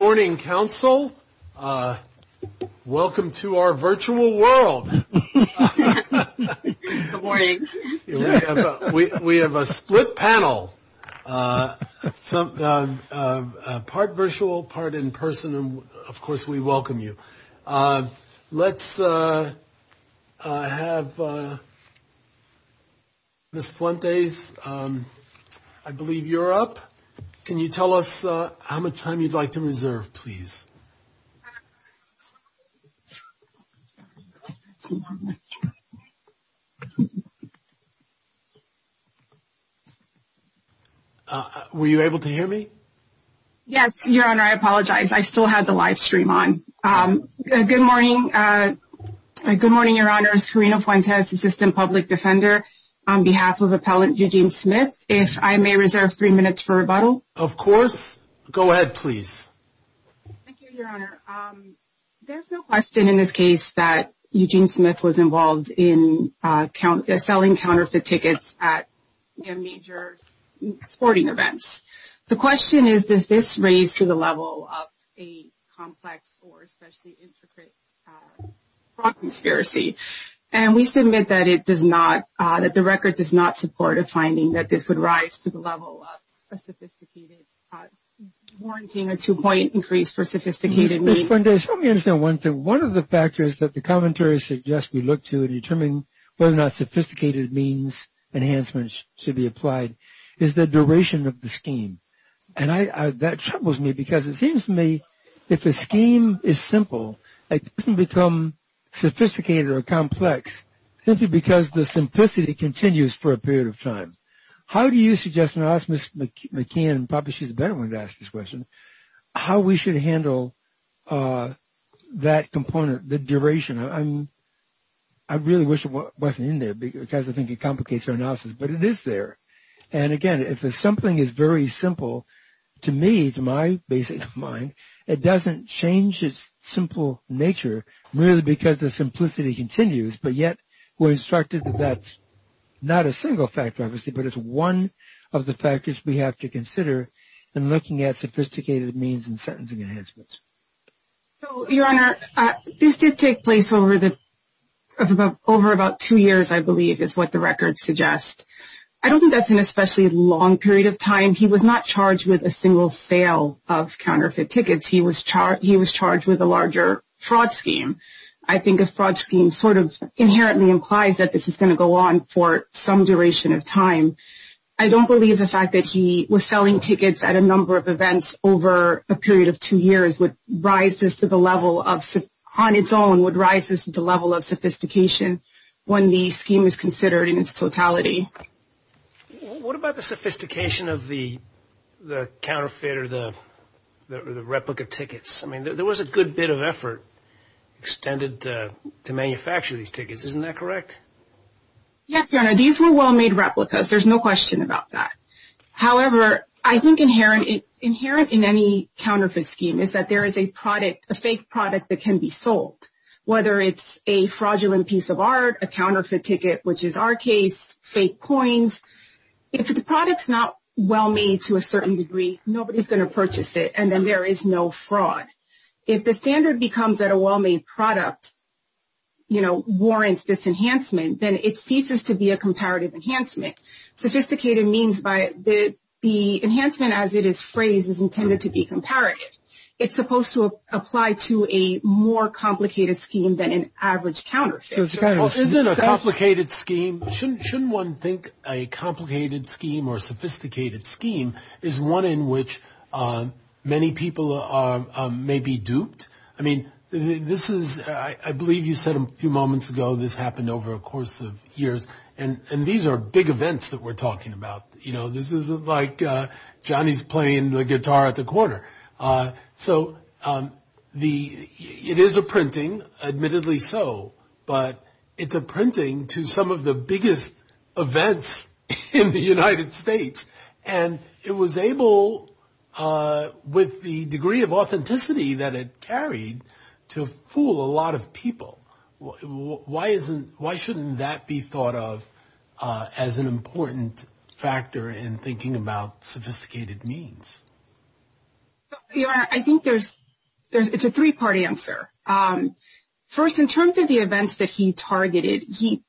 Good morning, Council. Welcome to our virtual world. Good morning. We have a split panel, part virtual, part in person, and of course we welcome you. Let's have Ms. Fuentes, I believe you're up. Can you tell us how much time you'd like to reserve, please? Were you able to hear me? Yes, Your Honor, I apologize. I still had the live stream on. Good morning, Your Honor. It's Karina Fuentes, Assistant Public Defender, on behalf of Appellant Eugene Smith. If I may reserve three minutes for rebuttal. Of course. Go ahead, please. Thank you, Your Honor. There's no question in this case that Eugene Smith was involved in selling counterfeit tickets at major sporting events. The question is, does this raise to the level of a complex or especially intricate fraud conspiracy? And we submit that it does not, that the record does not support a finding that this would rise to the level of a sophisticated, warranting a two-point increase for sophisticated means. Ms. Fuentes, let me understand one thing. One of the factors that the commentary suggests we look to in determining whether or not sophisticated means enhancements should be applied is the duration of the scheme. And that troubles me because it seems to me if a scheme is simple, it doesn't become sophisticated or complex simply because the simplicity continues for a period of time. How do you suggest, and I'll ask Ms. McKeon, probably she's a better one to ask this question, how we should handle that component, the duration? I really wish it wasn't in there because I think it complicates our analysis, but it is there. And again, if something is very simple, to me, to my basic mind, it doesn't change its simple nature really because the simplicity continues, but yet we're instructed that that's not a single factor, obviously, but it's one of the factors we have to consider in looking at sophisticated means and sentencing enhancements. Your Honor, this did take place over about two years, I believe, is what the record suggests. I don't think that's an especially long period of time. He was not charged with a single sale of counterfeit tickets. He was charged with a larger fraud scheme. I think a fraud scheme sort of inherently implies that this is going to go on for some duration of time. I don't believe the fact that he was selling tickets at a number of events over a period of two years would rise this to the level of, on its own, would rise this to the level of sophistication when the scheme is considered in its totality. What about the sophistication of the counterfeit or the replica tickets? I mean, there was a good bit of effort extended to manufacture these tickets. Isn't that correct? Yes, Your Honor. These were well-made replicas. There's no question about that. However, I think inherent in any counterfeit scheme is that there is a product, a fake product that can be sold, whether it's a fraudulent piece of art, a counterfeit ticket, which is our case, fake coins. If the product's not well-made to a certain degree, nobody's going to purchase it, and then there is no fraud. If the standard becomes that a well-made product, you know, warrants this enhancement, then it ceases to be a comparative enhancement. Sophisticated means by the enhancement as it is phrased is intended to be comparative. It's supposed to apply to a more complicated scheme than an average counterfeit. Well, isn't a complicated scheme, shouldn't one think a complicated scheme or a sophisticated scheme is one in which many people may be duped? I mean, this is, I believe you said a few moments ago this happened over a course of years, and these are big events that we're talking about. You know, this isn't like Johnny's playing the guitar at the corner. So it is a printing, admittedly so, but it's a printing to some of the biggest events in the United States, and it was able, with the degree of authenticity that it carried, to fool a lot of people. Why shouldn't that be thought of as an important factor in thinking about sophisticated means? I think it's a three-part answer. First, in terms of the events that he targeted, he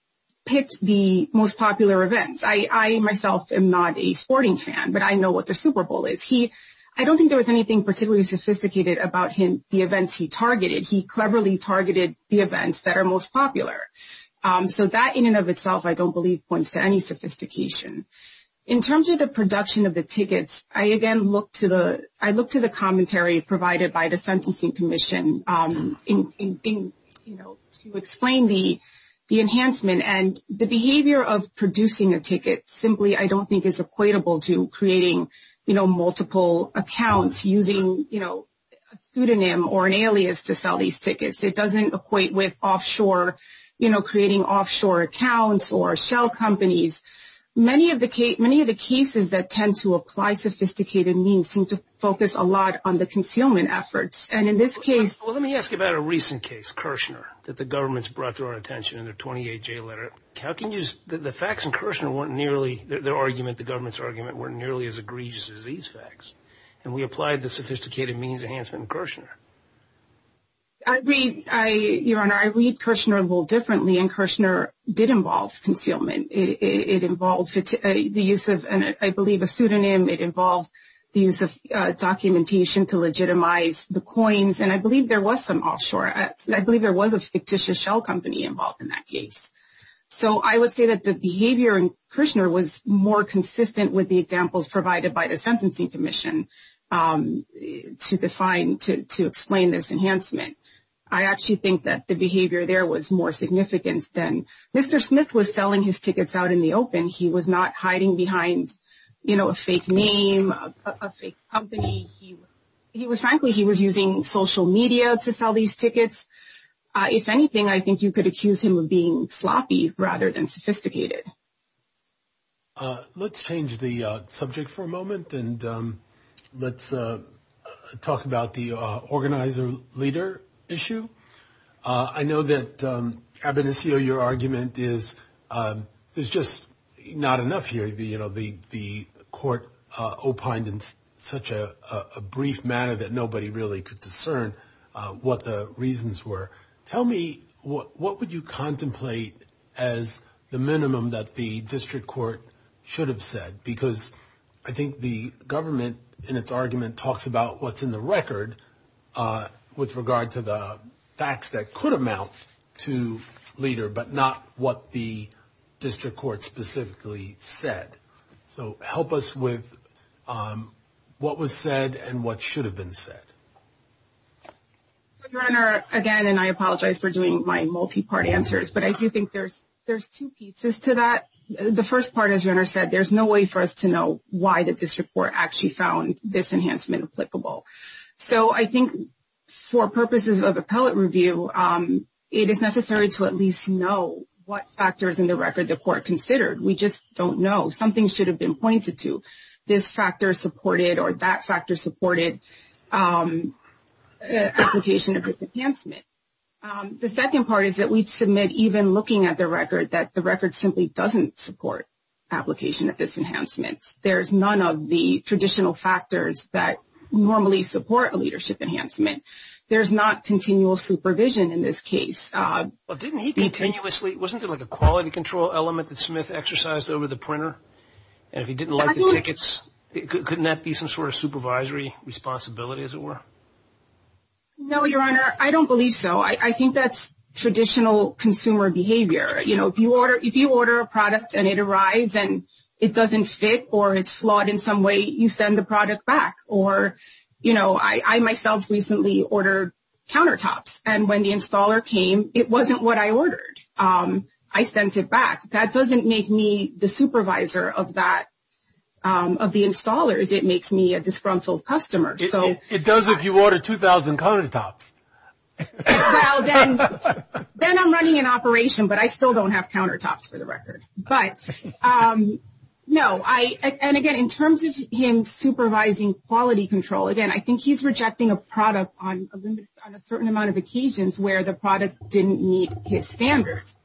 picked the most popular events. I myself am not a sporting fan, but I know what the Super Bowl is. I don't think there was anything particularly sophisticated about the events he targeted. He cleverly targeted the events that are most popular. So that, in and of itself, I don't believe points to any sophistication. In terms of the production of the tickets, I, again, look to the commentary provided by the Sentencing Commission to explain the enhancement. And the behavior of producing a ticket simply, I don't think, is equatable to creating multiple accounts, using a pseudonym or an alias to sell these tickets. It doesn't equate with creating offshore accounts or shell companies. Many of the cases that tend to apply sophisticated means seem to focus a lot on the concealment efforts. Well, let me ask you about a recent case, Kirshner, that the government's brought to our attention in their 28-J letter. The facts in Kirshner weren't nearly their argument, the government's argument, weren't nearly as egregious as these facts. And we applied the sophisticated means enhancement in Kirshner. Your Honor, I read Kirshner a little differently, and Kirshner did involve concealment. It involved the use of, I believe, a pseudonym. It involved the use of documentation to legitimize the coins. And I believe there was some offshore. I believe there was a fictitious shell company involved in that case. So I would say that the behavior in Kirshner was more consistent with the examples provided by the Sentencing Commission to define, to explain this enhancement. I actually think that the behavior there was more significant than Mr. Smith was selling his tickets out in the open. He was not hiding behind, you know, a fake name, a fake company. He was, frankly, he was using social media to sell these tickets. If anything, I think you could accuse him of being sloppy rather than sophisticated. Let's change the subject for a moment, and let's talk about the organizer-leader issue. I know that, Abedincio, your argument is there's just not enough here. You know, the court opined in such a brief manner that nobody really could discern what the reasons were. Tell me, what would you contemplate as the minimum that the district court should have said? Because I think the government, in its argument, talks about what's in the record with regard to the facts that could amount to leader, but not what the district court specifically said. So help us with what was said and what should have been said. So, Your Honor, again, and I apologize for doing my multi-part answers, but I do think there's two pieces to that. The first part, as Your Honor said, there's no way for us to know why the district court actually found this enhancement applicable. So I think for purposes of appellate review, it is necessary to at least know what factors in the record the court considered. We just don't know. Something should have been pointed to. This factor supported or that factor supported application of this enhancement. The second part is that we'd submit, even looking at the record, that the record simply doesn't support application of this enhancement. There's none of the traditional factors that normally support a leadership enhancement. There's not continual supervision in this case. Well, didn't he continuously, wasn't there like a quality control element that Smith exercised over the printer? And if he didn't like the tickets, couldn't that be some sort of supervisory responsibility, as it were? No, Your Honor. I don't believe so. I think that's traditional consumer behavior. You know, if you order a product and it arrives and it doesn't fit or it's flawed in some way, you send the product back. Or, you know, I myself recently ordered countertops, and when the installer came, it wasn't what I ordered. I sent it back. That doesn't make me the supervisor of that, of the installers. It makes me a disgruntled customer. It does if you order 2,000 countertops. Well, then I'm running an operation, but I still don't have countertops, for the record. But, no, I, and again, in terms of him supervising quality control, again, I think he's rejecting a product on a certain amount of occasions where the product didn't meet his standards.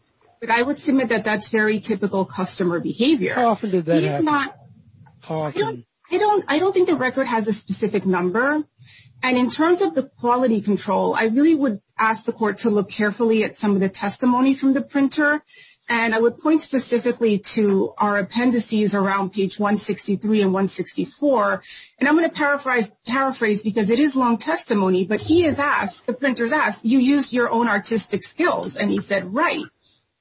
But I would submit that that's very typical customer behavior. How often does that happen? I don't think the record has a specific number. And in terms of the quality control, I really would ask the court to look carefully at some of the testimony from the printer. And I would point specifically to our appendices around page 163 and 164. And I'm going to paraphrase because it is long testimony, but he has asked, the printer has asked, you used your own artistic skills. And he said, right.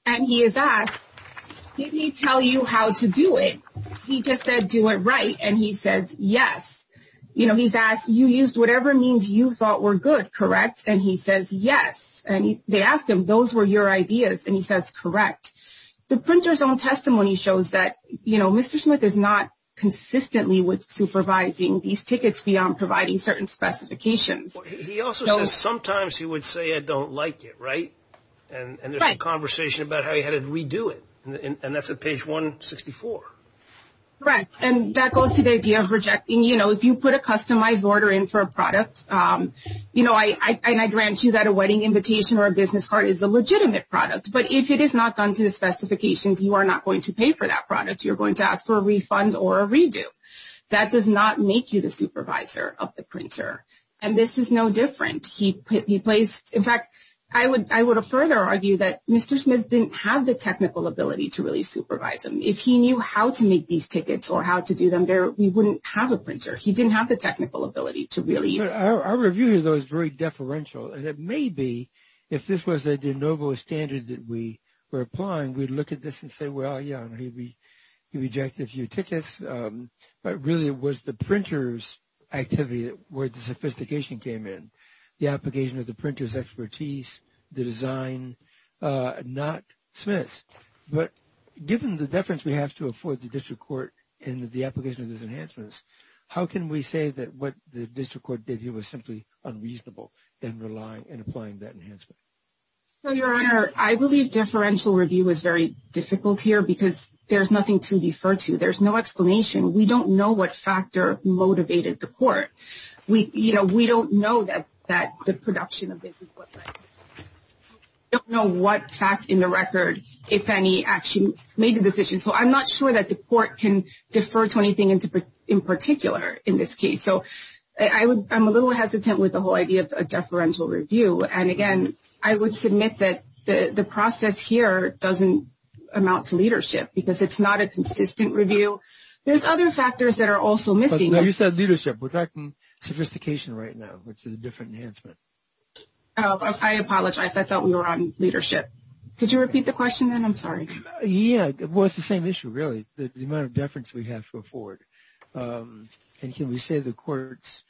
And he has asked, did he tell you how to do it? He just said, do it right. And he says, yes. You know, he's asked, you used whatever means you thought were good, correct? And he says, yes. And they asked him, those were your ideas. And he says, correct. The printer's own testimony shows that, you know, Mr. Smith is not consistently supervising these tickets beyond providing certain specifications. He also says, sometimes he would say, I don't like it, right? And there's a conversation about how he had to redo it. And that's at page 164. Correct. And that goes to the idea of rejecting. You know, if you put a customized order in for a product, you know, and I grant you that a wedding invitation or a business card is a legitimate product. But if it is not done to the specifications, you are not going to pay for that product. You're going to ask for a refund or a redo. That does not make you the supervisor of the printer. And this is no different. In fact, I would further argue that Mr. Smith didn't have the technical ability to really supervise them. If he knew how to make these tickets or how to do them, we wouldn't have a printer. He didn't have the technical ability to really. Our review, though, is very deferential. And it may be if this was a de novo standard that we were applying, we'd look at this and say, well, yeah, he rejected a few tickets. But really it was the printer's activity where the sophistication came in, the application of the printer's expertise, the design, not Smith's. But given the deference we have to afford the district court in the application of these enhancements, how can we say that what the district court did here was simply unreasonable in applying that enhancement? Your Honor, I believe deferential review is very difficult here because there's nothing to defer to. There's no explanation. We don't know what factor motivated the court. You know, we don't know that the production of this is what led to this. We don't know what fact in the record, if any, actually made the decision. So I'm not sure that the court can defer to anything in particular in this case. So I'm a little hesitant with the whole idea of deferential review. And, again, I would submit that the process here doesn't amount to leadership because it's not a consistent review. There's other factors that are also missing. But you said leadership. We're talking sophistication right now, which is a different enhancement. I apologize. I thought we were on leadership. Could you repeat the question, then? I'm sorry. Yeah. Well, it's the same issue, really, the amount of deference we have to afford. And can we say the court's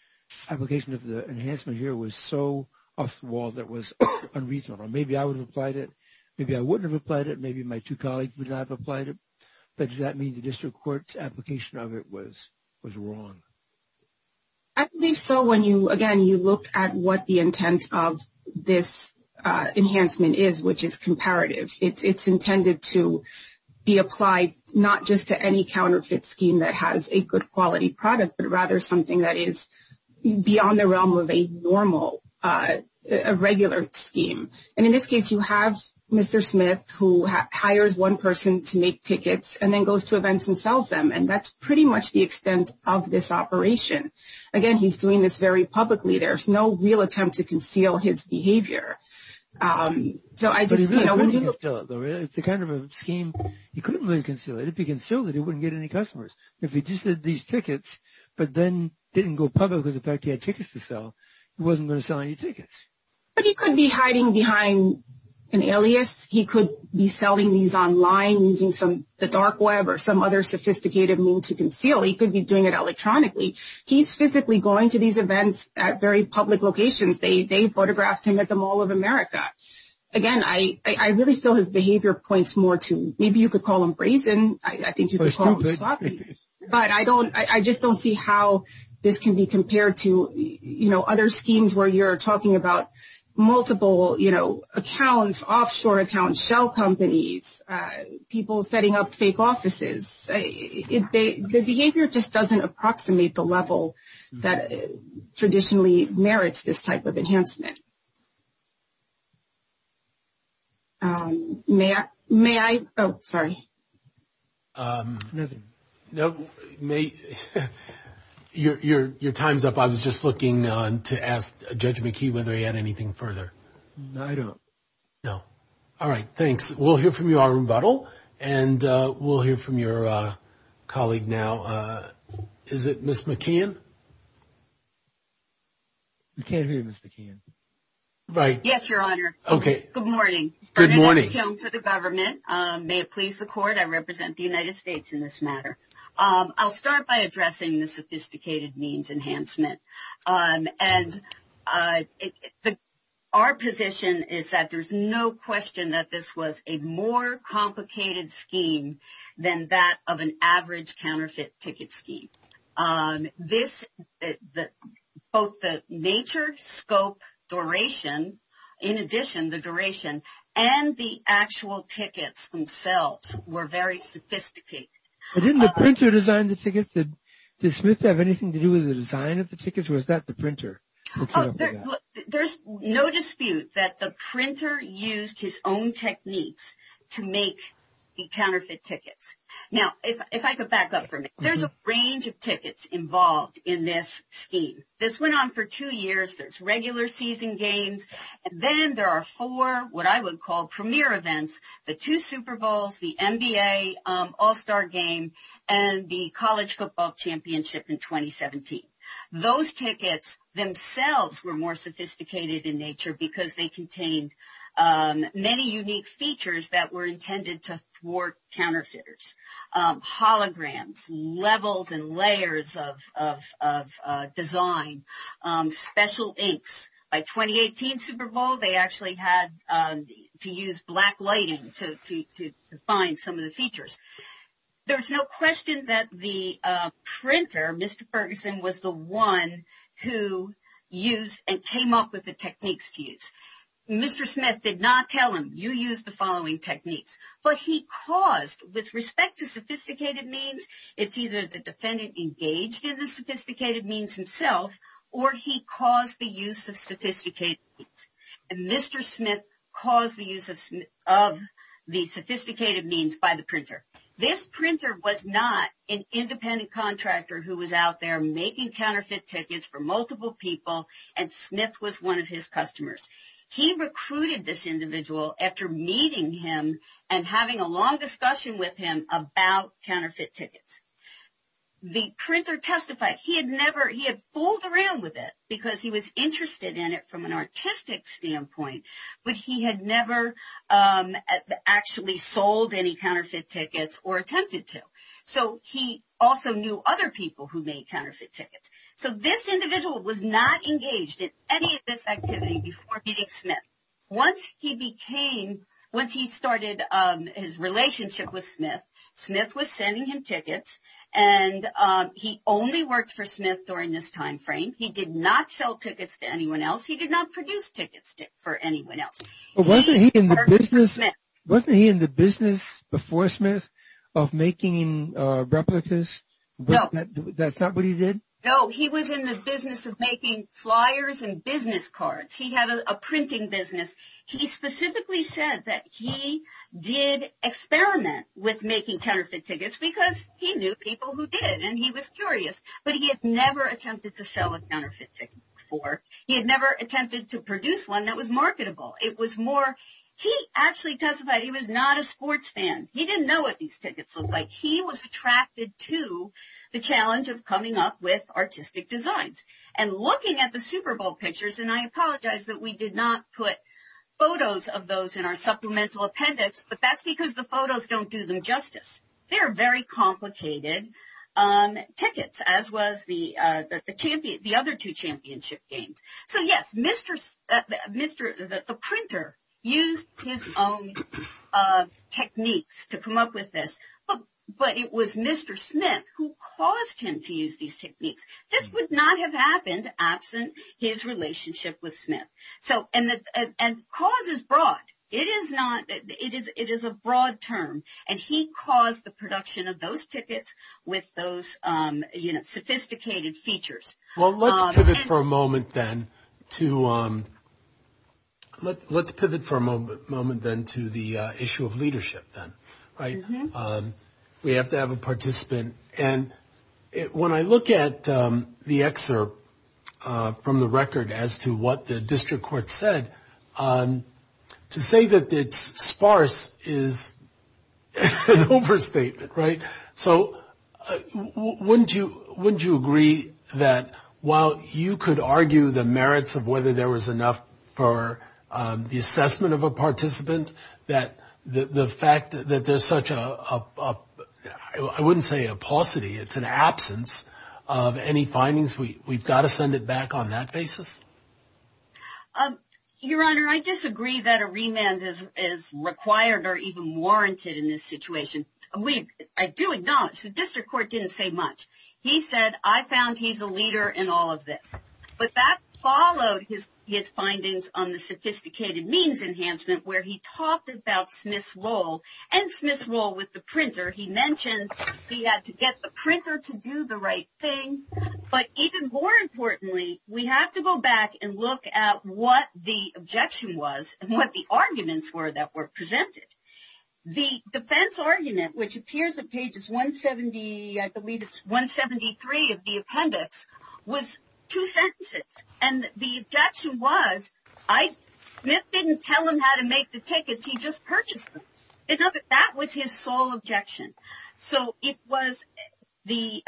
application of the enhancement here was so off the wall that was unreasonable? Maybe I would have applied it. Maybe I wouldn't have applied it. Maybe my two colleagues would not have applied it. But does that mean the district court's application of it was wrong? I believe so when you, again, you look at what the intent of this enhancement is, which is comparative. It's intended to be applied not just to any counterfeit scheme that has a good quality product, but rather something that is beyond the realm of a normal, a regular scheme. And in this case, you have Mr. Smith who hires one person to make tickets and then goes to events and sells them, and that's pretty much the extent of this operation. Again, he's doing this very publicly. There's no real attempt to conceal his behavior. So I just, you know, when you look at it. It's a kind of a scheme. He couldn't really conceal it. If he concealed it, he wouldn't get any customers. If he just did these tickets but then didn't go public with the fact he had tickets to sell, he wasn't going to sell any tickets. But he could be hiding behind an alias. He could be selling these online using the dark web or some other sophisticated means to conceal. He could be doing it electronically. He's physically going to these events at very public locations. They photographed him at the Mall of America. Again, I really feel his behavior points more to maybe you could call him brazen. I think you could call him sloppy. But I just don't see how this can be compared to, you know, other schemes where you're talking about multiple, you know, accounts, offshore accounts, shell companies, people setting up fake offices. The behavior just doesn't approximate the level that traditionally merits this type of enhancement. Okay. May I? Oh, sorry. Nothing. Your time's up. I was just looking to ask Judge McKee whether he had anything further. No, I don't. No. All right. Thanks. We'll hear from you, Arun Buttle, and we'll hear from your colleague now. Is it Ms. McKeon? We can't hear Ms. McKeon. Right. Yes, Your Honor. Okay. Good morning. Good morning. Arun McKeon for the government. May it please the Court, I represent the United States in this matter. I'll start by addressing the sophisticated means enhancement. And our position is that there's no question that this was a more complicated scheme than that of an average counterfeit ticket scheme. This, both the nature, scope, duration, in addition, the duration, and the actual tickets themselves were very sophisticated. But didn't the printer design the tickets? Did Smith have anything to do with the design of the tickets, or was that the printer? There's no dispute that the printer used his own techniques to make the counterfeit tickets. Now, if I could back up for a minute, there's a range of tickets involved in this scheme. This went on for two years. There's regular season games. Then there are four, what I would call, premier events, the two Super Bowls, the NBA All-Star Game, and the College Football Championship in 2017. Those tickets themselves were more sophisticated in nature because they contained many unique features that were intended to thwart counterfeiters. Holograms, levels and layers of design, special inks. By 2018 Super Bowl, they actually had to use black lighting to find some of the features. There's no question that the printer, Mr. Ferguson, was the one who used and came up with the techniques to use. Mr. Smith did not tell him, you use the following techniques. But he caused, with respect to sophisticated means, it's either the defendant engaged in the sophisticated means himself, or he caused the use of sophisticated means. And Mr. Smith caused the use of the sophisticated means by the printer. This printer was not an independent contractor who was out there making counterfeit tickets for multiple people, and Smith was one of his customers. He recruited this individual after meeting him and having a long discussion with him about counterfeit tickets. The printer testified he had fooled around with it because he was interested in it from an artistic standpoint, but he had never actually sold any counterfeit tickets or attempted to. So he also knew other people who made counterfeit tickets. So this individual was not engaged in any of this activity before meeting Smith. Once he started his relationship with Smith, Smith was sending him tickets, and he only worked for Smith during this time frame. He did not sell tickets to anyone else. He did not produce tickets for anyone else. But wasn't he in the business before Smith of making replicas? No. That's not what he did? No, he was in the business of making flyers and business cards. He had a printing business. He specifically said that he did experiment with making counterfeit tickets because he knew people who did, and he was curious, but he had never attempted to sell a counterfeit ticket before. He had never attempted to produce one that was marketable. It was more, he actually testified he was not a sports fan. He didn't know what these tickets looked like. He was attracted to the challenge of coming up with artistic designs. And looking at the Super Bowl pictures, and I apologize that we did not put photos of those in our supplemental appendix, but that's because the photos don't do them justice. They are very complicated tickets, as was the other two championship games. So, yes, the printer used his own techniques to come up with this. But it was Mr. Smith who caused him to use these techniques. This would not have happened absent his relationship with Smith. And cause is broad. It is a broad term, and he caused the production of those tickets with those sophisticated features. Well, let's pivot for a moment then to the issue of leadership then, right? We have to have a participant. And when I look at the excerpt from the record as to what the district court said, to say that it's sparse is an overstatement, right? So, wouldn't you agree that while you could argue the merits of whether there was enough for the assessment of a participant, that the fact that there's such a, I wouldn't say a paucity, it's an absence of any findings, we've got to send it back on that basis? Your Honor, I disagree that a remand is required or even warranted in this situation. I do acknowledge the district court didn't say much. He said, I found he's a leader in all of this. But that followed his findings on the sophisticated means enhancement, where he talked about Smith's role and Smith's role with the printer. He mentioned he had to get the printer to do the right thing. But even more importantly, we have to go back and look at what the objection was and what the arguments were that were presented. The defense argument, which appears at pages 170, I believe it's 173 of the appendix, was two sentences. And the objection was, I, Smith didn't tell him how to make the tickets, he just purchased them. That was his sole objection. So, it was the,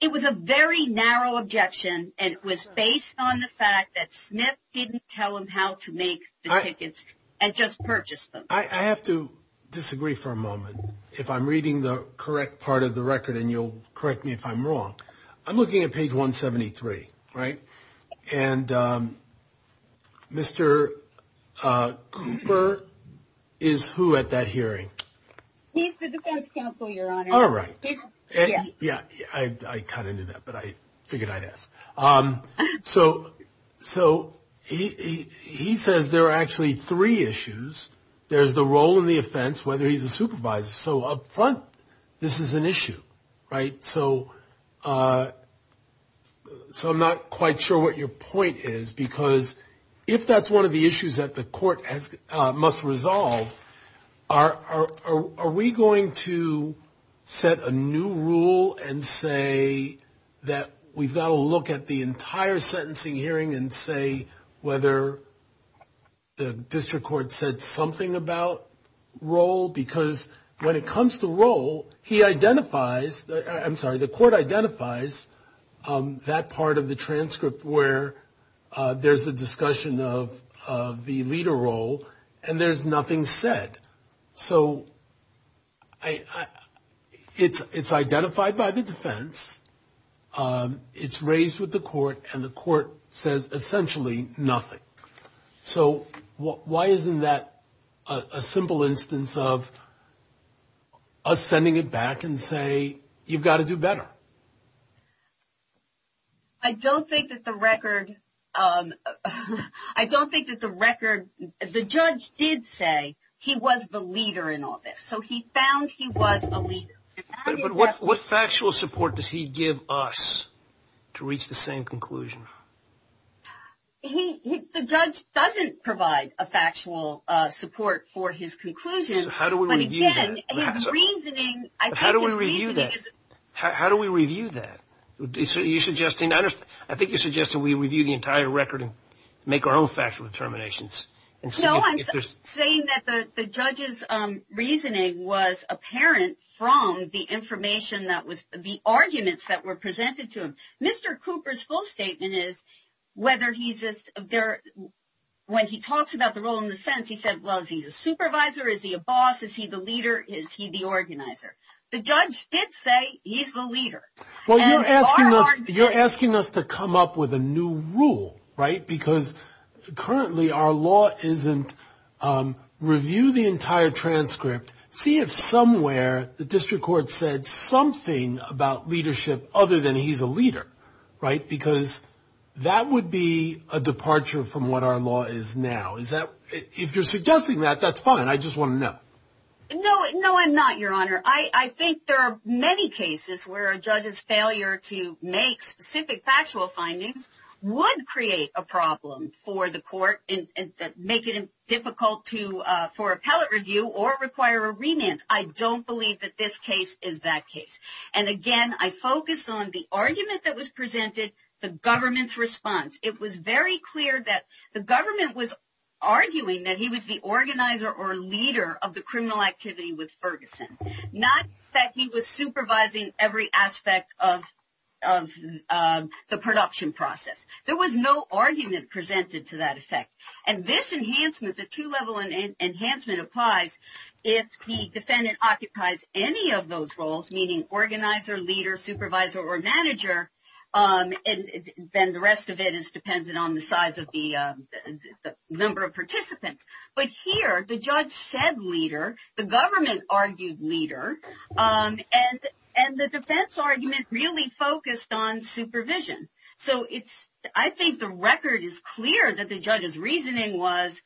it was a very narrow objection, and it was based on the fact that Smith didn't tell him how to make the tickets and just purchased them. I have to disagree for a moment. If I'm reading the correct part of the record, and you'll correct me if I'm wrong, I'm looking at page 173, right? And Mr. Cooper is who at that hearing? He's the defense counsel, Your Honor. All right. Yeah, I kind of knew that, but I figured I'd ask. So, he says there are actually three issues. There's the role and the offense, whether he's a supervisor. So, up front, this is an issue, right? So, I'm not quite sure what your point is, because if that's one of the issues that the court must resolve, are we going to set a new rule and say that we've got to look at the entire sentencing hearing and say whether the district court said something about role? Because when it comes to role, he identifies, I'm sorry, the court identifies that part of the transcript where there's a discussion of the leader role, and there's nothing said. So, it's identified by the defense. It's raised with the court, and the court says essentially nothing. So, why isn't that a simple instance of us sending it back and say, you've got to do better? I don't think that the record, I don't think that the record, the judge did say he was the leader in all this. So, he found he was a leader. But what factual support does he give us to reach the same conclusion? The judge doesn't provide a factual support for his conclusion. So, how do we review that? How do we review that? How do we review that? I think you're suggesting we review the entire record and make our own factual determinations. No, I'm saying that the judge's reasoning was apparent from the information that was, the arguments that were presented to him. Mr. Cooper's full statement is whether he's, when he talks about the role in the sentence, he said, well, is he a supervisor? Is he a boss? Is he the leader? Is he the organizer? The judge did say he's the leader. Well, you're asking us to come up with a new rule, right? Because currently our law isn't review the entire transcript, see if somewhere the district court said something about leadership other than he's a leader, right? Because that would be a departure from what our law is now. If you're suggesting that, that's fine. I just want to know. No, I'm not, Your Honor. I think there are many cases where a judge's failure to make specific factual findings would create a problem for the court and make it difficult for appellate review or require a remand. I don't believe that this case is that case. And, again, I focus on the argument that was presented, the government's response. It was very clear that the government was arguing that he was the organizer or leader of the criminal activity with Ferguson, not that he was supervising every aspect of the production process. There was no argument presented to that effect. And this enhancement, the two-level enhancement applies if the defendant occupies any of those roles, meaning organizer, leader, supervisor, or manager, and then the rest of it is dependent on the size of the number of participants. But here the judge said leader, the government argued leader, and the defense argument really focused on supervision. So I think the record is clear that the judge's reasoning was,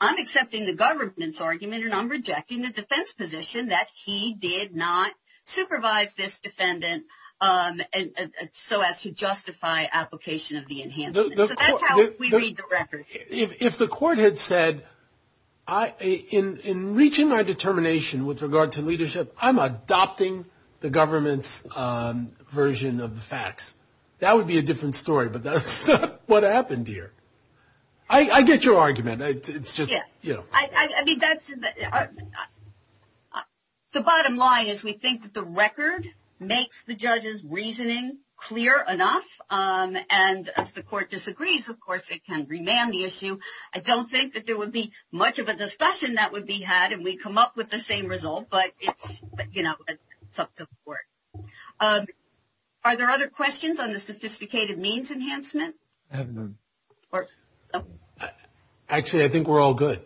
I'm accepting the government's argument and I'm rejecting the defense position that he did not supervise this defendant so as to justify application of the enhancement. So that's how we read the record. If the court had said, in reaching my determination with regard to leadership, I'm adopting the government's version of the facts, that would be a different story, but that's what happened here. I get your argument. It's just, you know. I mean, the bottom line is we think that the record makes the judge's reasoning clear enough, and if the court disagrees, of course, it can remand the issue. I don't think that there would be much of a discussion that would be had if we come up with the same result, but, you know, it's up to the court. Are there other questions on the sophisticated means enhancement? I have none. Actually, I think we're all good.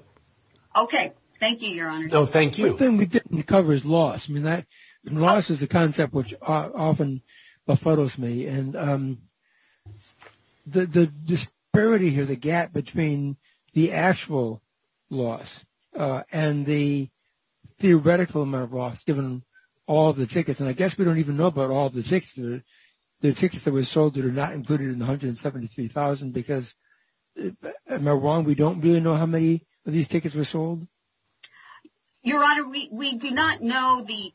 Okay. Thank you, Your Honor. No, thank you. The thing we didn't cover is loss. I mean, loss is a concept which often befuddles me, and the disparity here, the gap between the actual loss and the theoretical amount of loss given all the tickets, and I guess we don't even know about all the tickets. The tickets that were sold that are not included in the $173,000 because, am I wrong, we don't really know how many of these tickets were sold? Your Honor, we do not know the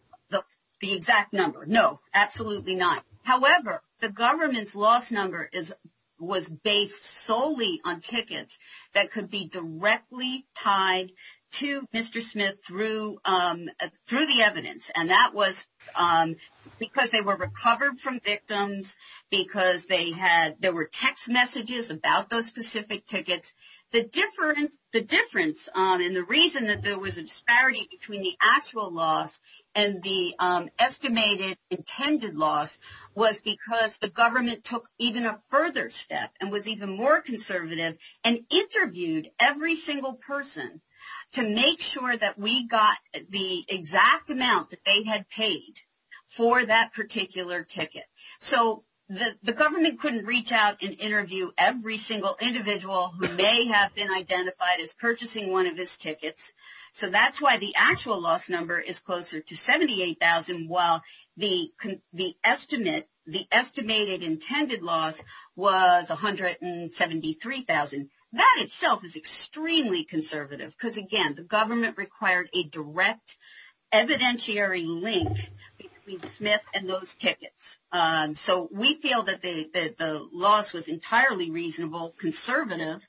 exact number. No, absolutely not. However, the government's loss number was based solely on tickets that could be directly tied to Mr. And that was because they were recovered from victims, because there were text messages about those specific tickets. The difference and the reason that there was a disparity between the actual loss and the estimated intended loss was because the government took even a further step and was even more conservative and interviewed every single person to make sure that we got the exact amount that they had paid for that particular ticket. So the government couldn't reach out and interview every single individual who may have been identified as purchasing one of his tickets. So that's why the actual loss number is closer to $78,000, while the estimated intended loss was $173,000. That itself is extremely conservative because, again, the government required a direct evidentiary link between Smith and those tickets. So we feel that the loss was entirely reasonable, conservative,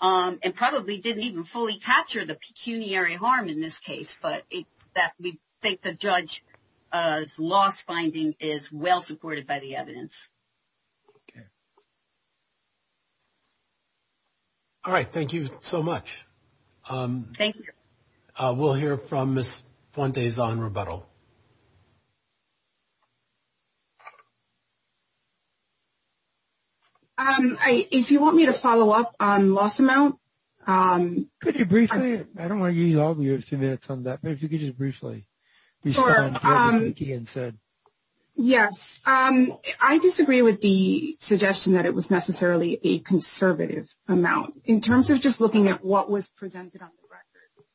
and probably didn't even fully capture the pecuniary harm in this case, but we think the judge's loss finding is well supported by the evidence. All right. Thank you so much. Thank you. We'll hear from Ms. Fuentes on rebuttal. If you want me to follow up on loss amount. Could you briefly? I don't want to use all of your minutes on that, but if you could just briefly respond to what Diane said. Yes. I disagree with the suggestion that it was necessarily a conservative amount. In terms of just looking at what was presented on the record,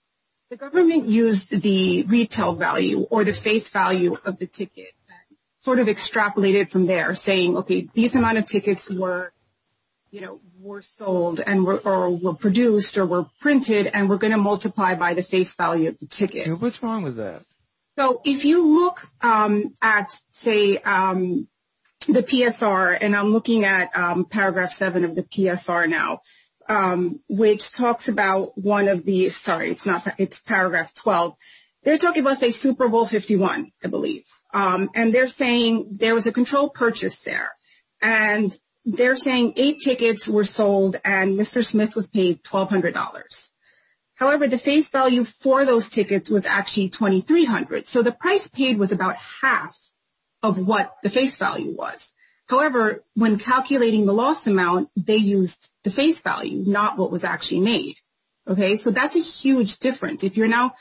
the government used the retail value or the face value of the ticket and sort of extrapolated from there, saying, okay, these amount of tickets were sold or were produced or were printed, and we're going to multiply by the face value of the ticket. What's wrong with that? So if you look at, say, the PSR, and I'm looking at Paragraph 7 of the PSR now, which talks about one of the – sorry, it's Paragraph 12. They're talking about, say, Super Bowl 51, I believe. And they're saying there was a controlled purchase there. And they're saying eight tickets were sold and Mr. Smith was paid $1,200. However, the face value for those tickets was actually $2,300. So the price paid was about half of what the face value was. However, when calculating the loss amount, they used the face value, not what was actually made. Okay? So that's a huge difference. If you're now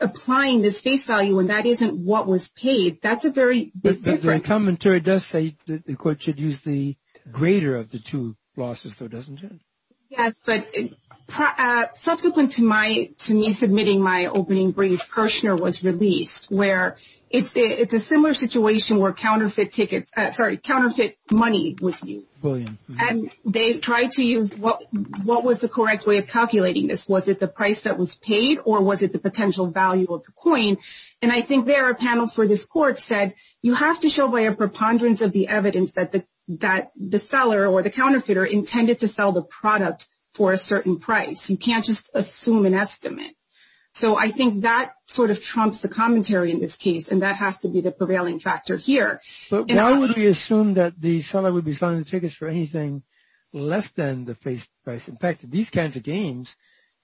applying this face value and that isn't what was paid, that's a very big difference. The commentary does say that the court should use the greater of the two losses, though, doesn't it? Yes, but subsequent to me submitting my opening brief, Kirshner was released, where it's a similar situation where counterfeit tickets – sorry, counterfeit money was used. And they tried to use what was the correct way of calculating this. Was it the price that was paid or was it the potential value of the coin? And I think there, a panel for this court said you have to show by a preponderance of the evidence that the seller or the counterfeiter intended to sell the product for a certain price. You can't just assume an estimate. So I think that sort of trumps the commentary in this case, and that has to be the prevailing factor here. But why would we assume that the seller would be selling the tickets for anything less than the face price? In fact, these kinds of games,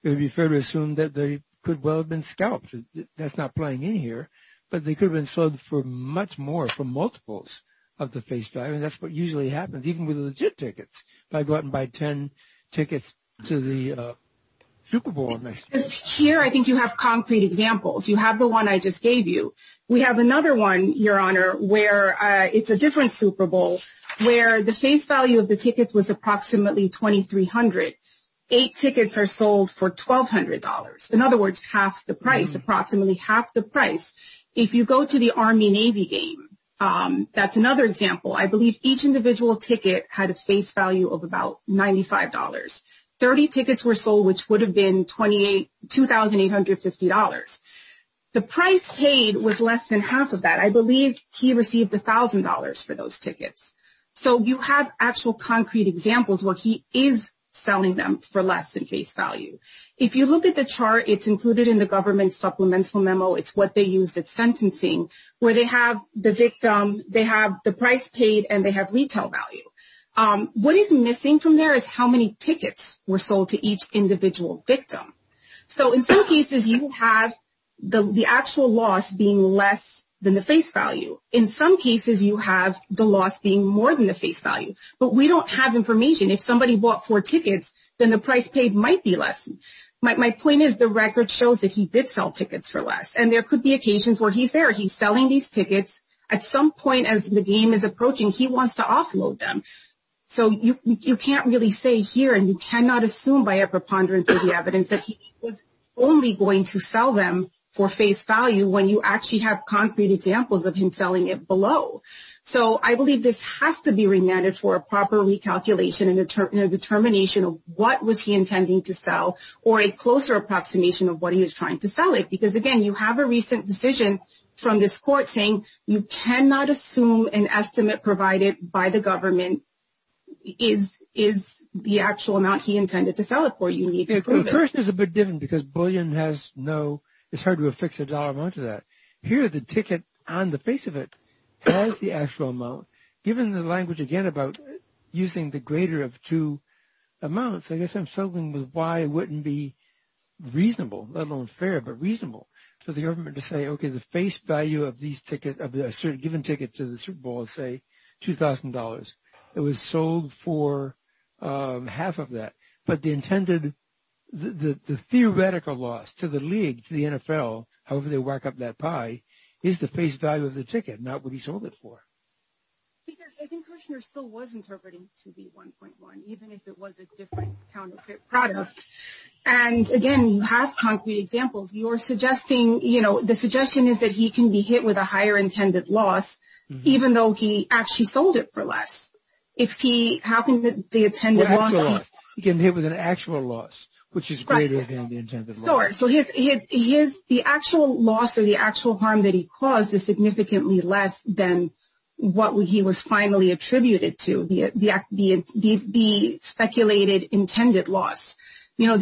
it would be fair to assume that they could well have been scalped. That's not playing in here. But they could have been sold for much more, for multiples of the face value, and that's what usually happens, even with legit tickets. If I go out and buy ten tickets to the Super Bowl next year. Here I think you have concrete examples. You have the one I just gave you. We have another one, Your Honor, where it's a different Super Bowl, where the face value of the tickets was approximately $2,300. Eight tickets are sold for $1,200. In other words, half the price, approximately half the price. If you go to the Army-Navy game, that's another example. I believe each individual ticket had a face value of about $95. Thirty tickets were sold, which would have been $2,850. The price paid was less than half of that. I believe he received $1,000 for those tickets. So you have actual concrete examples where he is selling them for less than face value. If you look at the chart, it's included in the government supplemental memo. It's what they use at sentencing where they have the victim, they have the price paid, and they have retail value. What is missing from there is how many tickets were sold to each individual victim. So in some cases you have the actual loss being less than the face value. In some cases you have the loss being more than the face value. But we don't have information. If somebody bought four tickets, then the price paid might be less. My point is the record shows that he did sell tickets for less, and there could be occasions where he's there, he's selling these tickets. At some point as the game is approaching, he wants to offload them. So you can't really say here, and you cannot assume by a preponderance of the evidence, that he was only going to sell them for face value when you actually have concrete examples of him selling it below. So I believe this has to be remanded for a proper recalculation and a determination of what was he intending to sell or a closer approximation of what he was trying to sell it. Because, again, you have a recent decision from this court saying you cannot assume an estimate provided by the government is the actual amount he intended to sell it for. First, there's a big difference because bullion has no – it's hard to affix a dollar amount to that. Here, the ticket on the face of it has the actual amount. Given the language, again, about using the greater of two amounts, I guess I'm struggling with why it wouldn't be reasonable, let alone fair, but reasonable. So the government would say, okay, the face value of these tickets, of the given ticket to the Super Bowl is, say, $2,000. It was sold for half of that. But the intended – the theoretical loss to the league, to the NFL, however they work up that pie, is the face value of the ticket, not what he sold it for. Because I think Kushner still was interpreting it to be 1.1, even if it was a different counterfeit product. And, again, you have concrete examples. You're suggesting – you know, the suggestion is that he can be hit with a higher intended loss, even though he actually sold it for less. If he happened to – the intended loss. He can be hit with an actual loss, which is greater than the intended loss. Sure. So the actual loss or the actual harm that he caused is significantly less than what he was finally attributed to, the speculated intended loss. You know,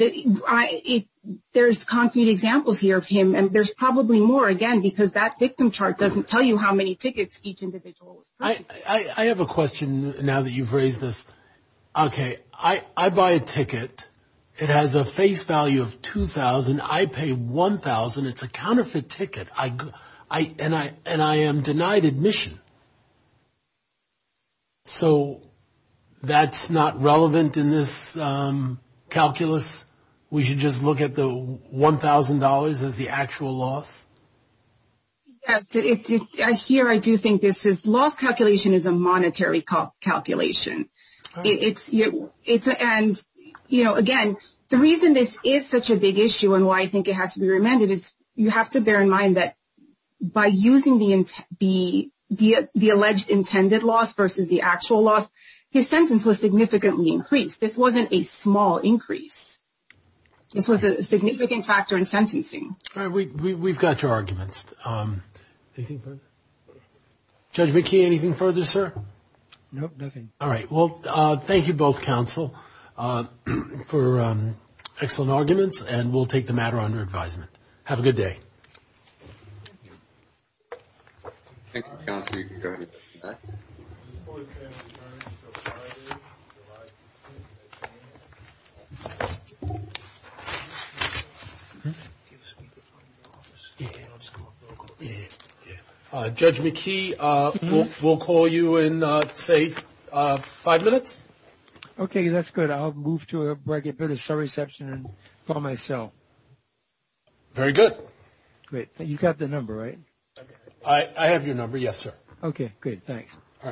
there's concrete examples here of him, and there's probably more, again, because that victim chart doesn't tell you how many tickets each individual was purchasing. I have a question now that you've raised this. Okay, I buy a ticket. It has a face value of 2,000. I pay 1,000. It's a counterfeit ticket, and I am denied admission. So that's not relevant in this calculus? We should just look at the $1,000 as the actual loss? Yes, here I do think this is – loss calculation is a monetary calculation. And, you know, again, the reason this is such a big issue and why I think it has to be remanded is you have to bear in mind that by using the alleged intended loss versus the actual loss, his sentence was significantly increased. This wasn't a small increase. This was a significant factor in sentencing. All right, we've got your arguments. Anything further? Judge McKee, anything further, sir? No, nothing. All right, well, thank you both, counsel, for excellent arguments, and we'll take the matter under advisement. Have a good day. Thank you, counsel. Thank you. Judge McKee, we'll call you in, say, five minutes. Okay, that's good. I'll move to a bit of surreception for myself. Very good. Great. You've got the number, right? I have your number, yes, sir. Okay, great, thanks. All right, bye-bye. Bye.